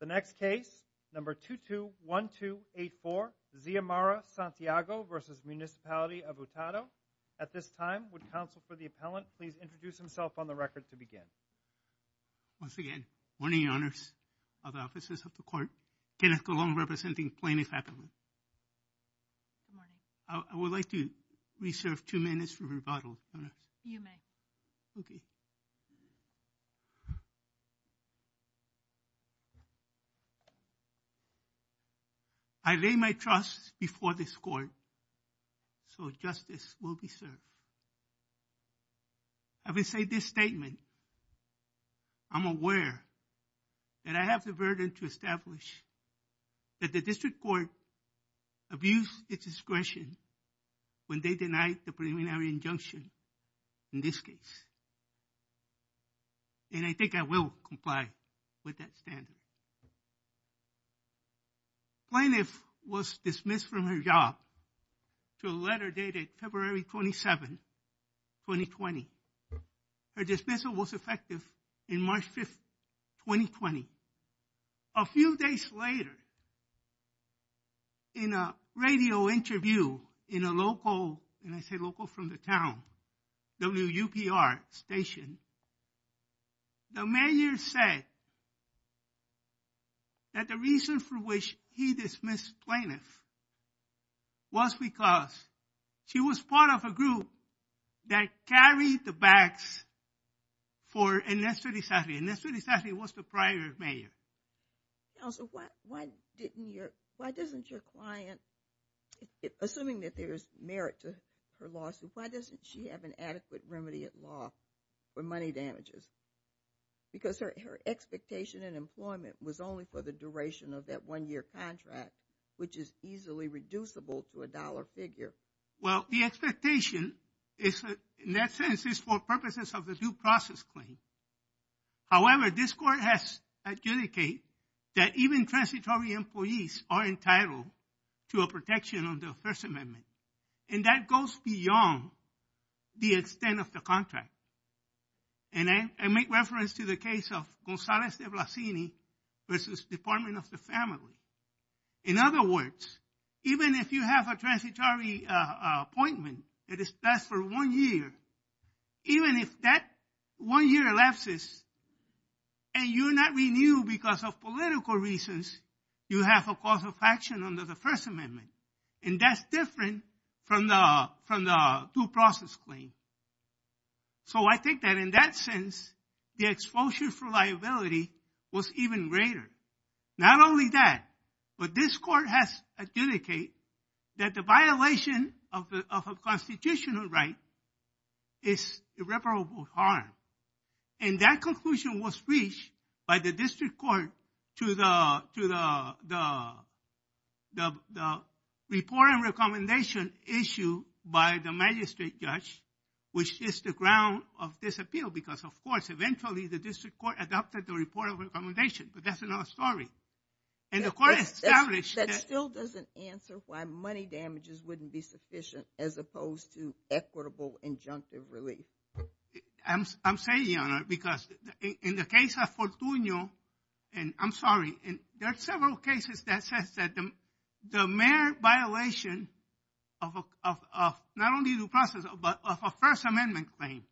The next case, number 221284, Zia Mara-Santiago v. Municipality of Utuado. At this time, would counsel for the appellant please introduce himself on the record to begin. Once again, good morning, Your Honors. All the officers of the court. Kenneth Colon, representing Plano faculty. Good morning. I would like to reserve two minutes for rebuttal. You may. Okay. I lay my trust before this court so justice will be served. I will say this statement. I'm aware that I have the burden to establish that the district court abused its discretion when they denied the preliminary injunction in this case. And I think I will comply with that standard. Plano was dismissed from her job to a letter dated February 27, 2020. Her dismissal was effective in March 5, 2020. A few days later, in a radio interview in a local, and I say local from the town, WUPR station, the mayor said that the reason for which he dismissed Plano was because she was part of a group that carried the bags for Ernesto Di Sarri. Ernesto Di Sarri was the prior mayor. Counsel, why didn't your, why doesn't your client, assuming that there's merit to her lawsuit, why doesn't she have an adequate remedy at law for money damages? Because her expectation in employment was only for the duration of that one-year contract, which is easily reducible to a dollar figure. Well, the expectation is, in that sense, is for purposes of the due process claim. However, this court has adjudicated that even transitory employees are entitled to a protection under the First Amendment. And that goes beyond the extent of the contract. And I make reference to the case of Gonzalez de Blasini versus Department of the Family. In other words, even if you have a transitory appointment that is passed for one year, even if that one-year elapses and you're not renewed because of political reasons, you have a cause of action under the First Amendment. And that's different from the due process claim. So I think that in that sense, the exposure for liability was even greater. Not only that, but this court has adjudicated that the violation of a constitutional right is irreparable harm. And that conclusion was reached by the district court to the report and recommendation issue by the magistrate judge, which is the ground of this appeal. Because, of course, eventually the district court adopted the report of recommendation, but that's another story. And the court established that… That still doesn't answer why money damages wouldn't be sufficient as opposed to equitable injunctive relief. I'm saying, Your Honor, because in the case of Fortuno, and I'm sorry, there are several cases that says that the mere violation of not only due process, but of a First Amendment claim,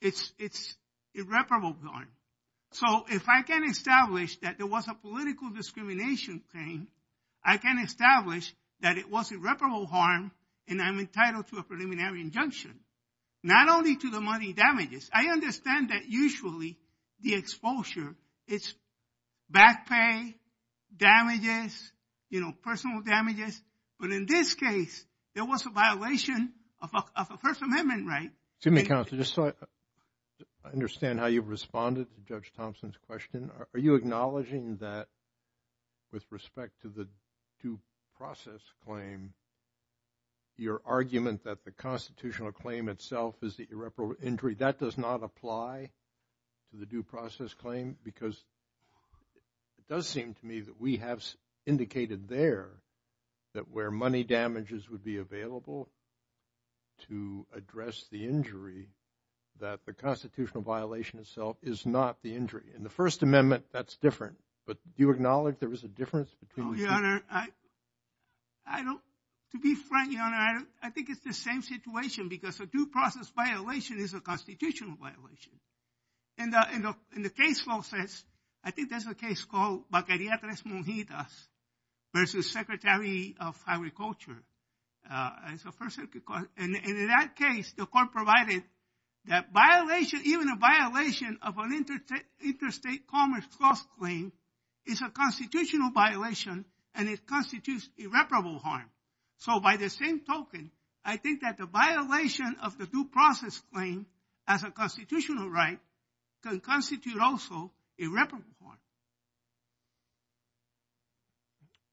it's irreparable harm. So if I can establish that there was a political discrimination claim, I can establish that it was irreparable harm and I'm entitled to a preliminary injunction. Not only to the money damages, I understand that usually the exposure is back pay, damages, you know, personal damages. But in this case, there was a violation of a First Amendment right. Excuse me, counsel, just so I understand how you've responded to Judge Thompson's question. Are you acknowledging that with respect to the due process claim, your argument that the constitutional claim itself is the irreparable injury, that does not apply to the due process claim? Because it does seem to me that we have indicated there that where money damages would be available to address the injury, that the constitutional violation itself is not the injury. In the First Amendment, that's different. But do you acknowledge there was a difference between the two? Your Honor, I don't. To be frank, Your Honor, I think it's the same situation because a due process violation is a constitutional violation. In the case law sense, I think there's a case called Bacariatres Monjitas versus Secretary of Agriculture. And in that case, the court provided that violation, even a violation of an interstate commerce clause claim is a constitutional violation and it constitutes irreparable harm. So by the same token, I think that the violation of the due process claim as a constitutional right can constitute also irreparable harm.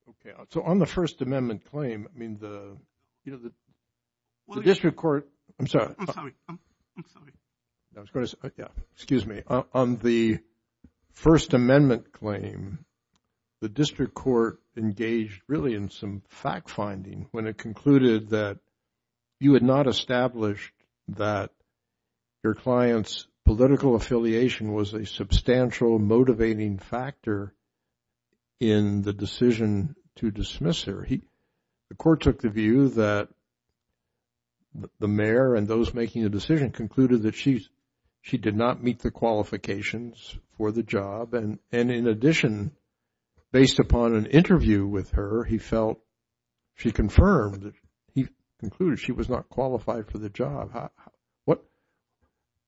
Okay. So on the First Amendment claim, I mean the, you know, the district court. I'm sorry. I'm sorry. I'm sorry. Excuse me. On the First Amendment claim, the district court engaged really in some fact-finding when it concluded that you had not established that your client's political affiliation was a substantial motivating factor in the decision to dismiss her. The court took the view that the mayor and those making the decision concluded that she did not meet the qualifications for the job. And in addition, based upon an interview with her, he felt she confirmed, he concluded she was not qualified for the job.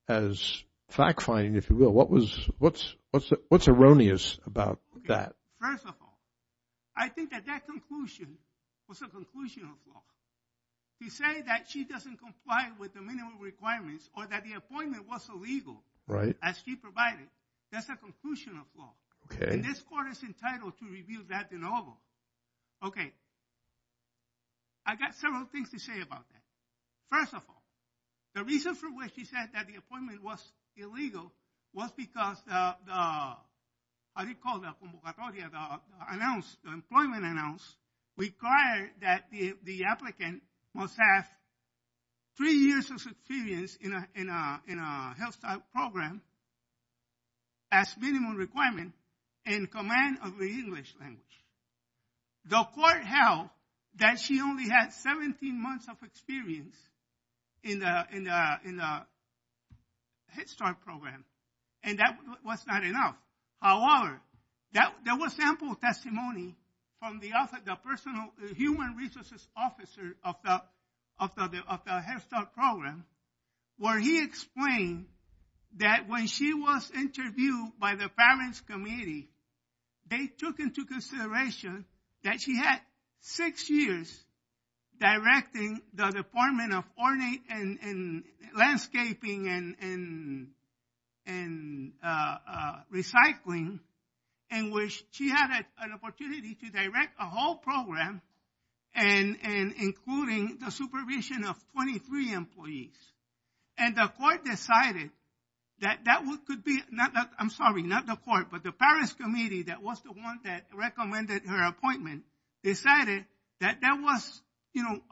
As fact-finding, if you will, what's erroneous about that? First of all, I think that that conclusion was a conclusion of law. He said that she doesn't comply with the minimum requirements or that the appointment was illegal. Right. As she provided. That's a conclusion of law. Okay. And this court is entitled to review that de novo. Okay. I got several things to say about that. First of all, the reason for which she said that the appointment was illegal was because the, how do you call that, convocatoria, the announcement, the employment announcement, required that the applicant must have three years of experience in a health program as minimum requirement in command of the English language. The court held that she only had 17 months of experience in the Head Start program. And that was not enough. However, there was sample testimony from the human resources officer of the Head Start program where he explained that when she was interviewed by the parents' committee, they took into consideration that she had six years directing the Department of Ornate and Landscaping and Recycling, in which she had an opportunity to direct a whole program, including the supervision of 23 employees. And the court decided that that could be, I'm sorry, not the court, but the parents' committee that was the one that recommended her appointment, decided that there was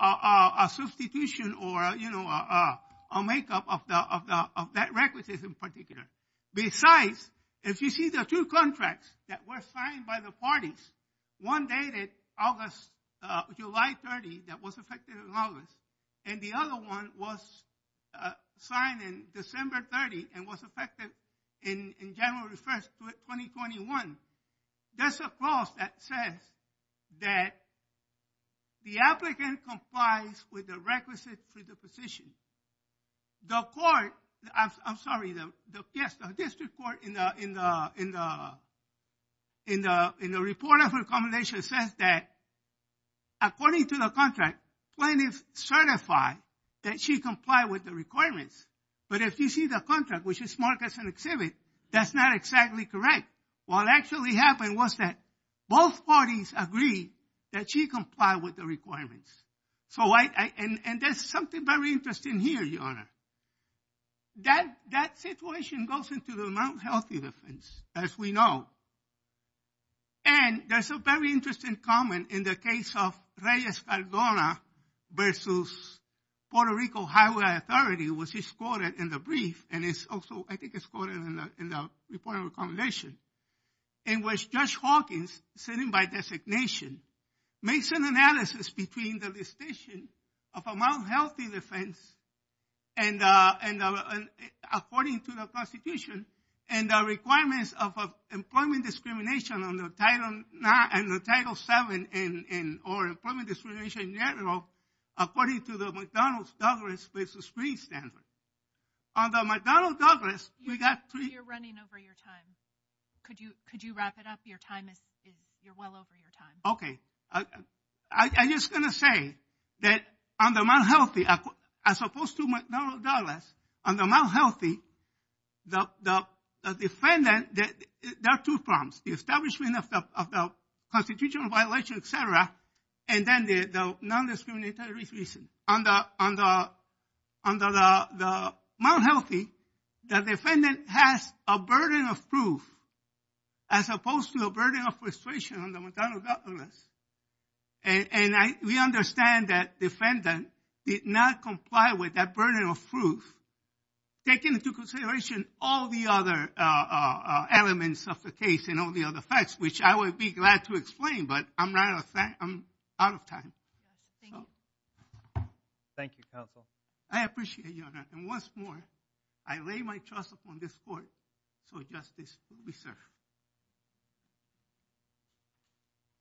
a substitution or a make-up of that requisite in particular. Besides, if you see the two contracts that were signed by the parties, one dated July 30 that was effective in August, and the other one was signed in December 30 and was effective in January 1, 2021, there's a clause that says that the applicant complies with the requisite for the position. The court, I'm sorry, yes, the district court in the report of recommendation says that according to the contract, plaintiff certified that she complied with the requirements. But if you see the contract, which is marked as an exhibit, that's not exactly correct. What actually happened was that both parties agreed that she complied with the requirements. And there's something very interesting here, Your Honor. That situation goes into the mental health defense, as we know. And there's a very interesting comment in the case of Reyes-Cargona versus Puerto Rico Highway Authority, which is quoted in the brief, and it's also, I think it's quoted in the report of recommendation, in which Judge Hawkins, sitting by designation, makes an analysis between the distinction of a mouth-healthy defense, according to the Constitution, and the requirements of employment discrimination under Title VII, or employment discrimination in general, according to the McDonalds-Douglas versus Freed standard. Under McDonald-Douglas, we got pre- You're running over your time. Could you wrap it up? Your time is, you're well over your time. Okay. I'm just going to say that under mouth-healthy, as opposed to McDonald-Douglas, under mouth-healthy, the defendant, there are two problems. The establishment of the constitutional violation, et cetera, and then the non-discriminatory reason. Under the mouth-healthy, the defendant has a burden of proof, as opposed to a burden of frustration under McDonald-Douglas. And we understand that defendant did not comply with that burden of proof, taking into consideration all the other elements of the case and all the other facts, which I would be glad to explain, but I'm out of time. Thank you. Thank you, counsel. I appreciate you, Your Honor. And once more, I lay my trust upon this court, so justice will be served.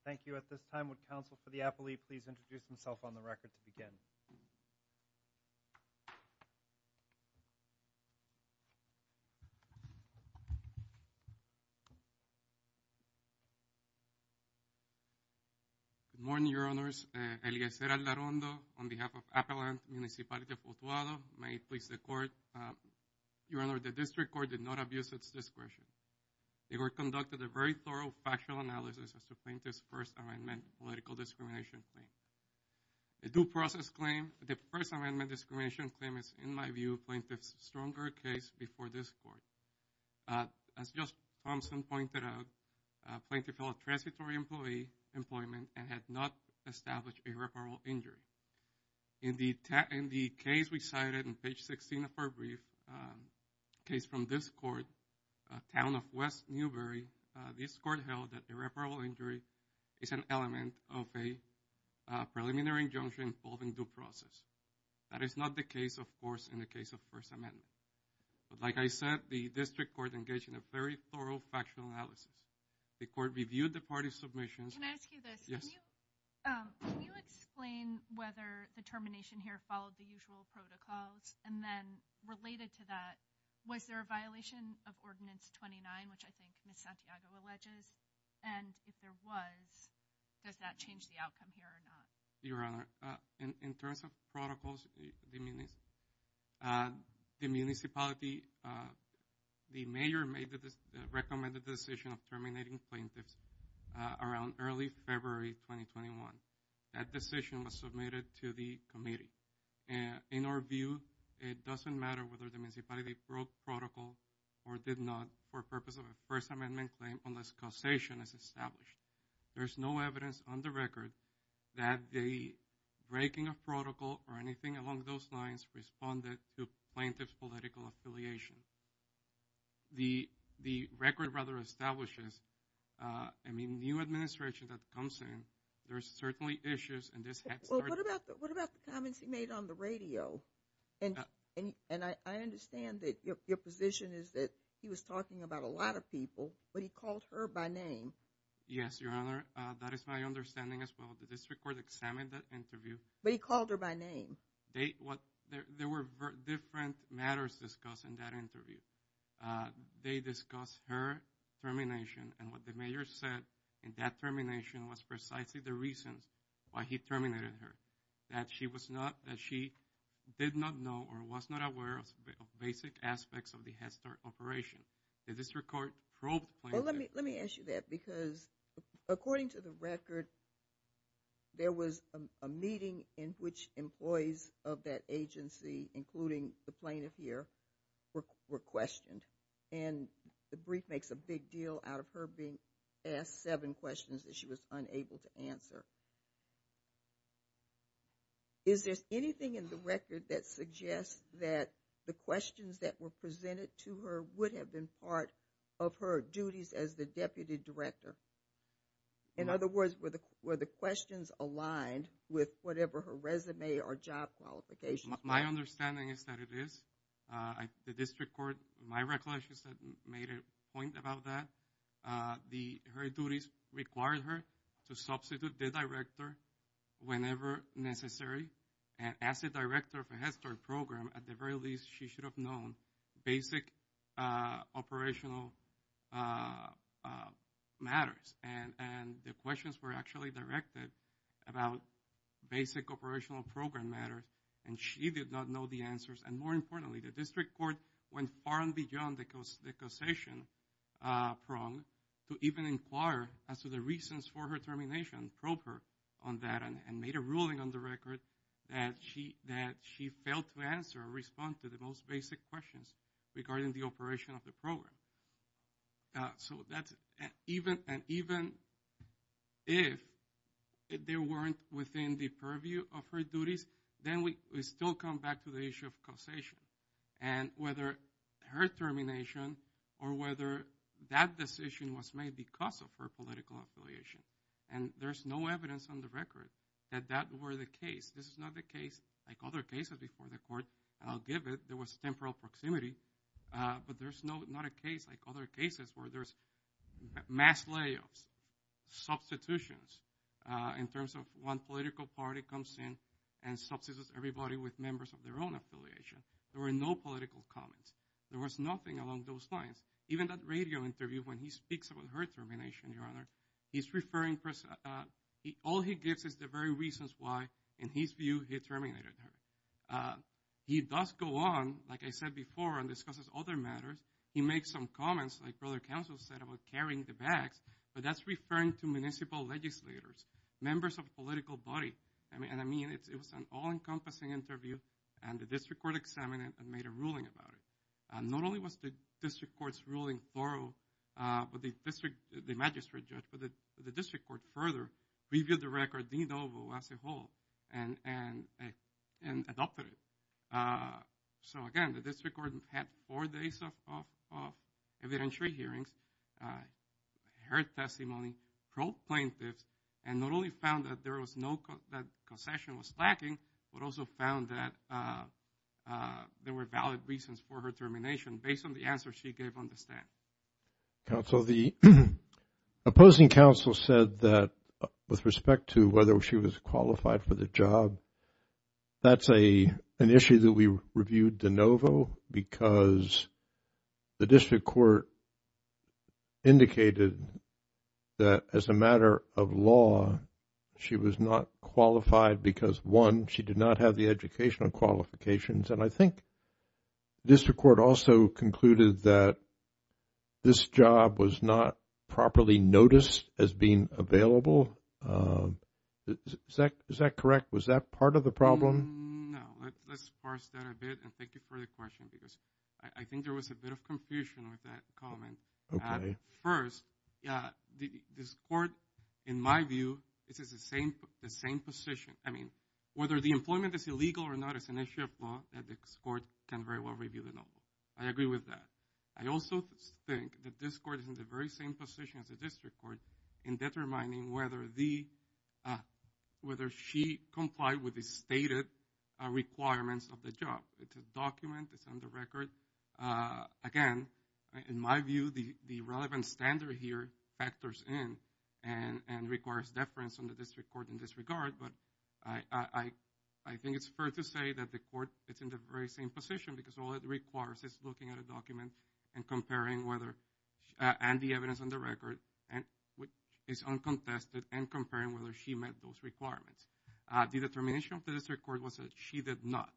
Thank you. At this time, would counsel for the affilee please introduce himself on the record to begin? Good morning, Your Honors. Eliezer Aldarondo, on behalf of Appalachian Municipality of Potoado. May it please the Court. Your Honor, the District Court did not abuse its discretion. The Court conducted a very thorough factual analysis as to plaintiff's first amendment, political discrimination claim. A due process claim, the first amendment discrimination claim is, in my view, plaintiff's stronger case before this Court. As Justice Thompson pointed out, plaintiff held transitory employment and had not established irreparable injury. In the case we cited on page 16 of our brief, case from this Court, Town of West Newbury, this Court held that irreparable injury is an element of a preliminary injunction involving due process. That is not the case, of course, in the case of first amendment. But like I said, the District Court engaged in a very thorough factual analysis. The Court reviewed the parties' submissions. Can I ask you this? Yes. Can you explain whether the termination here followed the usual protocols? And then related to that, was there a violation of Ordinance 29, which I think Ms. Santiago alleges? And if there was, does that change the outcome here or not? Your Honor, in terms of protocols, the municipality, the mayor made the recommended decision of terminating plaintiffs around early February 2021. That decision was submitted to the committee. In our view, it doesn't matter whether the municipality broke protocol or did not for purpose of a first amendment claim unless causation is established. There's no evidence on the record that the breaking of protocol or anything along those lines responded to plaintiff's political affiliation. The record rather establishes a new administration that comes in. Well, what about the comments he made on the radio? And I understand that your position is that he was talking about a lot of people, but he called her by name. Yes, Your Honor, that is my understanding as well. The District Court examined that interview. But he called her by name. There were different matters discussed in that interview. They discussed her termination and what the mayor said in that termination was precisely the reasons why he terminated her. That she was not, that she did not know or was not aware of basic aspects of the Hester operation. Let me ask you that because according to the record, there was a meeting in which employees of that agency, including the plaintiff here, were questioned. And the brief makes a big deal out of her being asked seven questions that she was unable to answer. Is there anything in the record that suggests that the questions that were presented to her would have been part of her duties as the Deputy Director? In other words, were the questions aligned with whatever her resume or job qualifications were? My understanding is that it is. The District Court, in my recollection, made a point about that. Her duties required her to substitute the director whenever necessary. And as the director of the Hester program, at the very least, she should have known basic operational matters. And the questions were actually directed about basic operational program matter. And more importantly, the District Court went far and beyond the causation prong to even inquire as to the reasons for her termination. Probed her on that and made a ruling on the record that she failed to answer or respond to the most basic questions regarding the operation of the program. So even if they weren't within the purview of her duties, then we still come back to the issue of causation. And whether her termination or whether that decision was made because of her political affiliation. And there's no evidence on the record that that were the case. This is not the case like other cases before the court, I'll give it. There was temporal proximity, but there's not a case like other cases where there's mass layoffs, substitutions. In terms of one political party comes in and substitutes everybody with members of their own affiliation. There were no political comments. There was nothing along those lines. Even that radio interview when he speaks about her termination, Your Honor, he's referring, all he gives is the very reasons why, in his view, he terminated her. He does go on, like I said before, and discusses other matters. He makes some comments, like Brother Counsel said, about carrying the bags, but that's referring to municipal legislators, members of political body. And I mean, it was an all-encompassing interview, and the district court examined it and made a ruling about it. Not only was the district court's ruling thorough, but the district, the magistrate judge, but the district court further reviewed the record, as a whole, and adopted it. So, again, the district court had four days of evidentiary hearings, heard testimony, probe plaintiffs, and not only found that there was no, that concession was lacking, but also found that there were valid reasons for her termination based on the answer she gave on the stand. Counsel, the opposing counsel said that, with respect to whether she was qualified for the job, that's an issue that we reviewed de novo because the district court indicated that, as a matter of law, she was not qualified because, one, she did not have the educational qualifications. And I think district court also concluded that this job was not properly noticed as being available. Is that correct? Was that part of the problem? No. Let's parse that a bit, and thank you for the question, because I think there was a bit of confusion with that comment. Okay. At first, yeah, this court, in my view, this is the same position. I mean, whether the employment is illegal or not is an issue of law that this court can very well review de novo. I agree with that. I also think that this court is in the very same position as the district court in determining whether she complied with the stated requirements of the job. It's a document. It's on the record. Again, in my view, the relevant standard here factors in and requires deference on the district court in this regard, but I think it's fair to say that the court is in the very same position because all it requires is looking at a document and comparing whether the evidence on the record is uncontested and comparing whether she met those requirements. The determination of the district court was that she did not.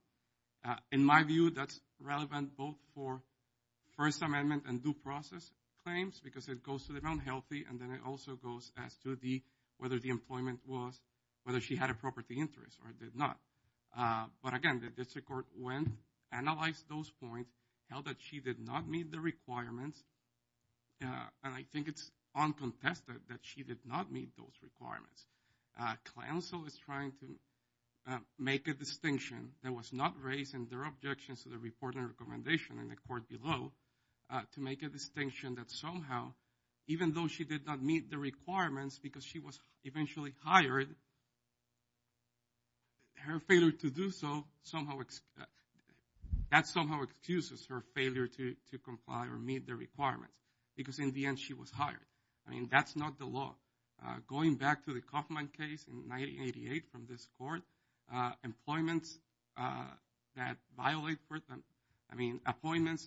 In my view, that's relevant both for First Amendment and due process claims because it goes to the unhealthy and then it also goes as to whether the employment was, whether she had a property interest or did not. But again, the district court went, analyzed those points, held that she did not meet the requirements, and I think it's uncontested that she did not meet those requirements. Council is trying to make a distinction that was not raised in their objections to the report and recommendation in the court below to make a distinction that somehow, even though she did not meet the requirements because she was eventually hired, her failure to do so somehow, that somehow excuses her failure to comply or meet the requirements because in the end she was hired. I mean, that's not the law. Going back to the Kaufman case in 1988 from this court, appointments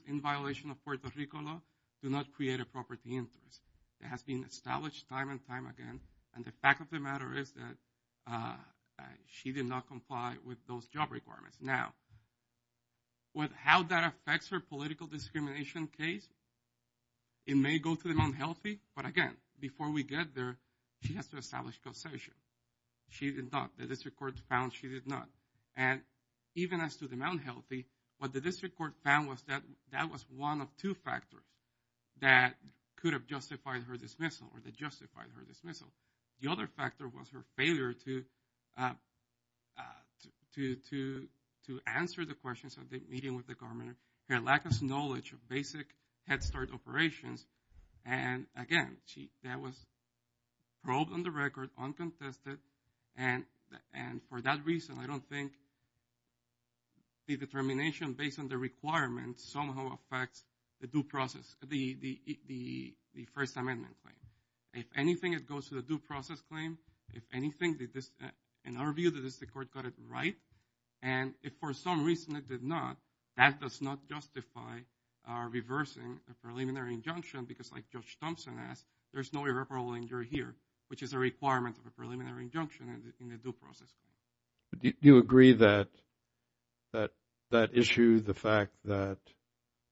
in violation of Puerto Rico law do not create a property interest. It has been established time and time again, and the fact of the matter is that she did not comply with those job requirements. Now, with how that affects her political discrimination case, it may go to the unhealthy, but again, before we get there, she has to establish causation. She did not. The district court found she did not. And even as to the unhealthy, what the district court found was that that was one of two factors that could have justified her dismissal or that justified her dismissal. The other factor was her failure to answer the questions of the meeting with the governor, her lack of knowledge of basic head start operations. And again, that was probed on the record, uncontested, and for that reason I don't think the determination based on the requirements somehow affects the due process, the First Amendment claim. If anything, it goes to the due process claim. If anything, in our view, the district court got it right. And if for some reason it did not, that does not justify reversing a preliminary injunction because like Judge Thompson asked, there's no irreparable injury here, which is a requirement of a preliminary injunction in the due process. Do you agree that that issue, the fact that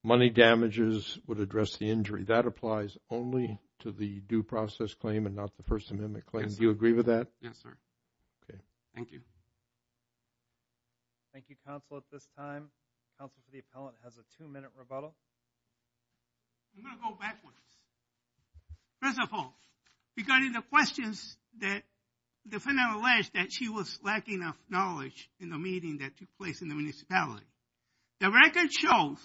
money damages would address the injury, that applies only to the due process claim and not the First Amendment claim? Yes, sir. Do you agree with that? Yes, sir. Okay, thank you. Thank you, counsel. At this time, counsel for the appellant has a two-minute rebuttal. I'm going to go backwards. First of all, regarding the questions that the defendant alleged that she was lacking of knowledge in the meeting that took place in the municipality, the record shows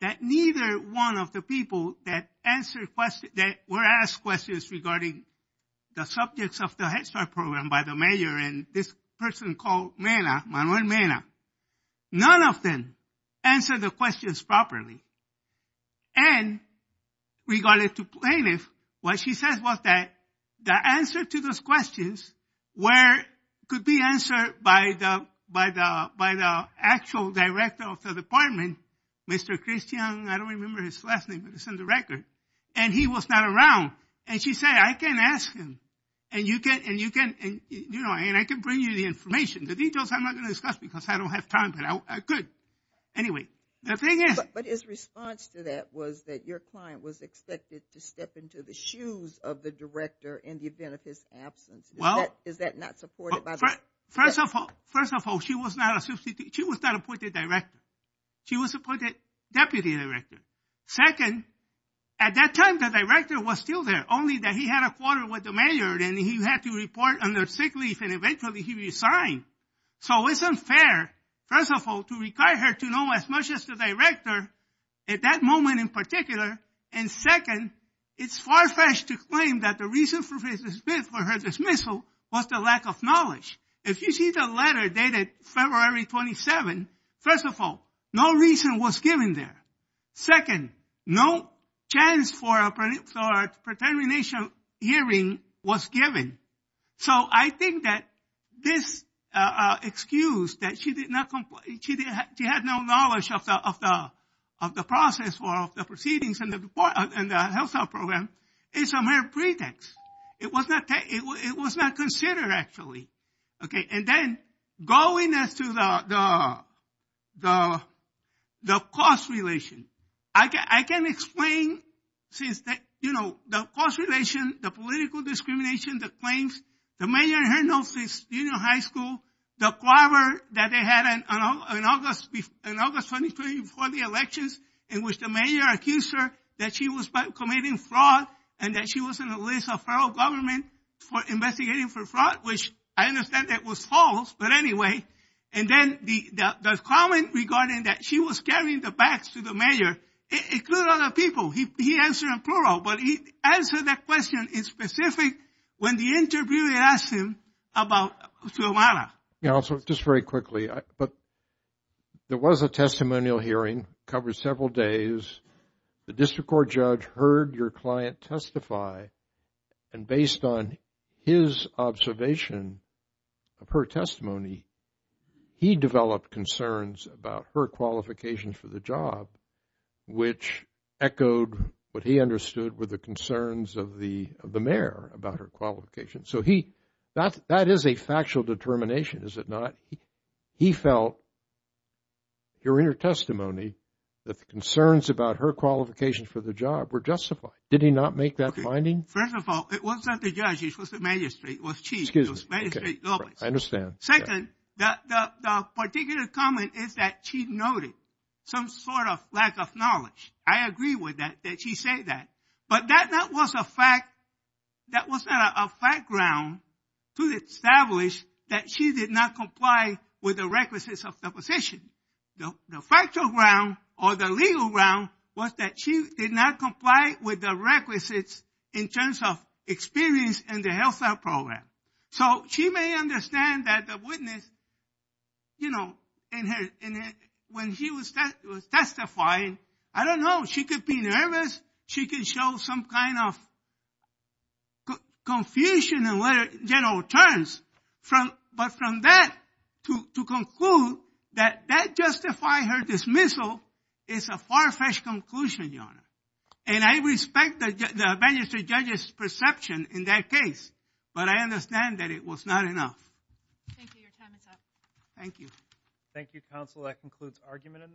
that neither one of the people that were asked questions regarding the subjects of the Head Start program by the mayor and this person called Manuel Mena, none of them answered the questions properly. And regarding the plaintiff, what she said was that the answer to those questions could be answered by the actual director of the department, Mr. Christian, I don't remember his last name, but it's in the record, and he was not around. And she said, I can ask him, and I can bring you the information. The details I'm not going to discuss because I don't have time, but I could. Anyway, the thing is... But his response to that was that your client was expected to step into the shoes of the director in the event of his absence. Is that not supported by the... First of all, she was not appointed director. She was appointed deputy director. Second, at that time, the director was still there, only that he had a quarter with the mayor and he had to report under sick leave and eventually he resigned. So it's unfair, first of all, to require her to know as much as the director at that moment in particular. And second, it's far-fetched to claim that the reason for her dismissal was the lack of knowledge. If you see the letter dated February 27, first of all, no reason was given there. Second, no chance for a pre-termination hearing was given. So I think that this excuse that she had no knowledge of the process for the proceedings and the health care program is a mere pretext. It was not considered, actually. Okay, and then going as to the cost relation. I can explain since the cost relation, the political discrimination, the claims, the mayor and her notice in junior high school, the clobber that they had in August 2020 before the elections in which the mayor accused her that she was committing fraud and that she was on the list of federal government for investigating for fraud, which I understand that was false, but anyway. And then the comment regarding that she was carrying the bags to the mayor, it included other people. He answered in plural, but he answered that question in specific when the interviewer asked him about Suomala. Counsel, just very quickly, there was a testimonial hearing, covered several days. The district court judge heard your client testify, and based on his observation of her testimony, he developed concerns about her qualifications for the job, which echoed what he understood were the concerns of the mayor about her qualifications. So that is a factual determination, is it not? He felt during her testimony that the concerns about her qualifications for the job were justified. Did he not make that finding? First of all, it wasn't the judge. It was the magistrate. It was she. It was the magistrate. I understand. Second, the particular comment is that she noted some sort of lack of knowledge. I agree with that, that she said that. But that was not a fact ground to establish that she did not comply with the requisites of the position. The factual ground or the legal ground was that she did not comply with the requisites in terms of experience in the health care program. So she may understand that the witness, you know, when she was testifying, I don't know, she could be nervous. She could show some kind of confusion in general terms. But from that to conclude that that justified her dismissal is a far-fetched conclusion, Your Honor. And I respect the magistrate judge's perception in that case. But I understand that it was not enough. Thank you. Your time is up. Thank you, counsel. That concludes argument in this case.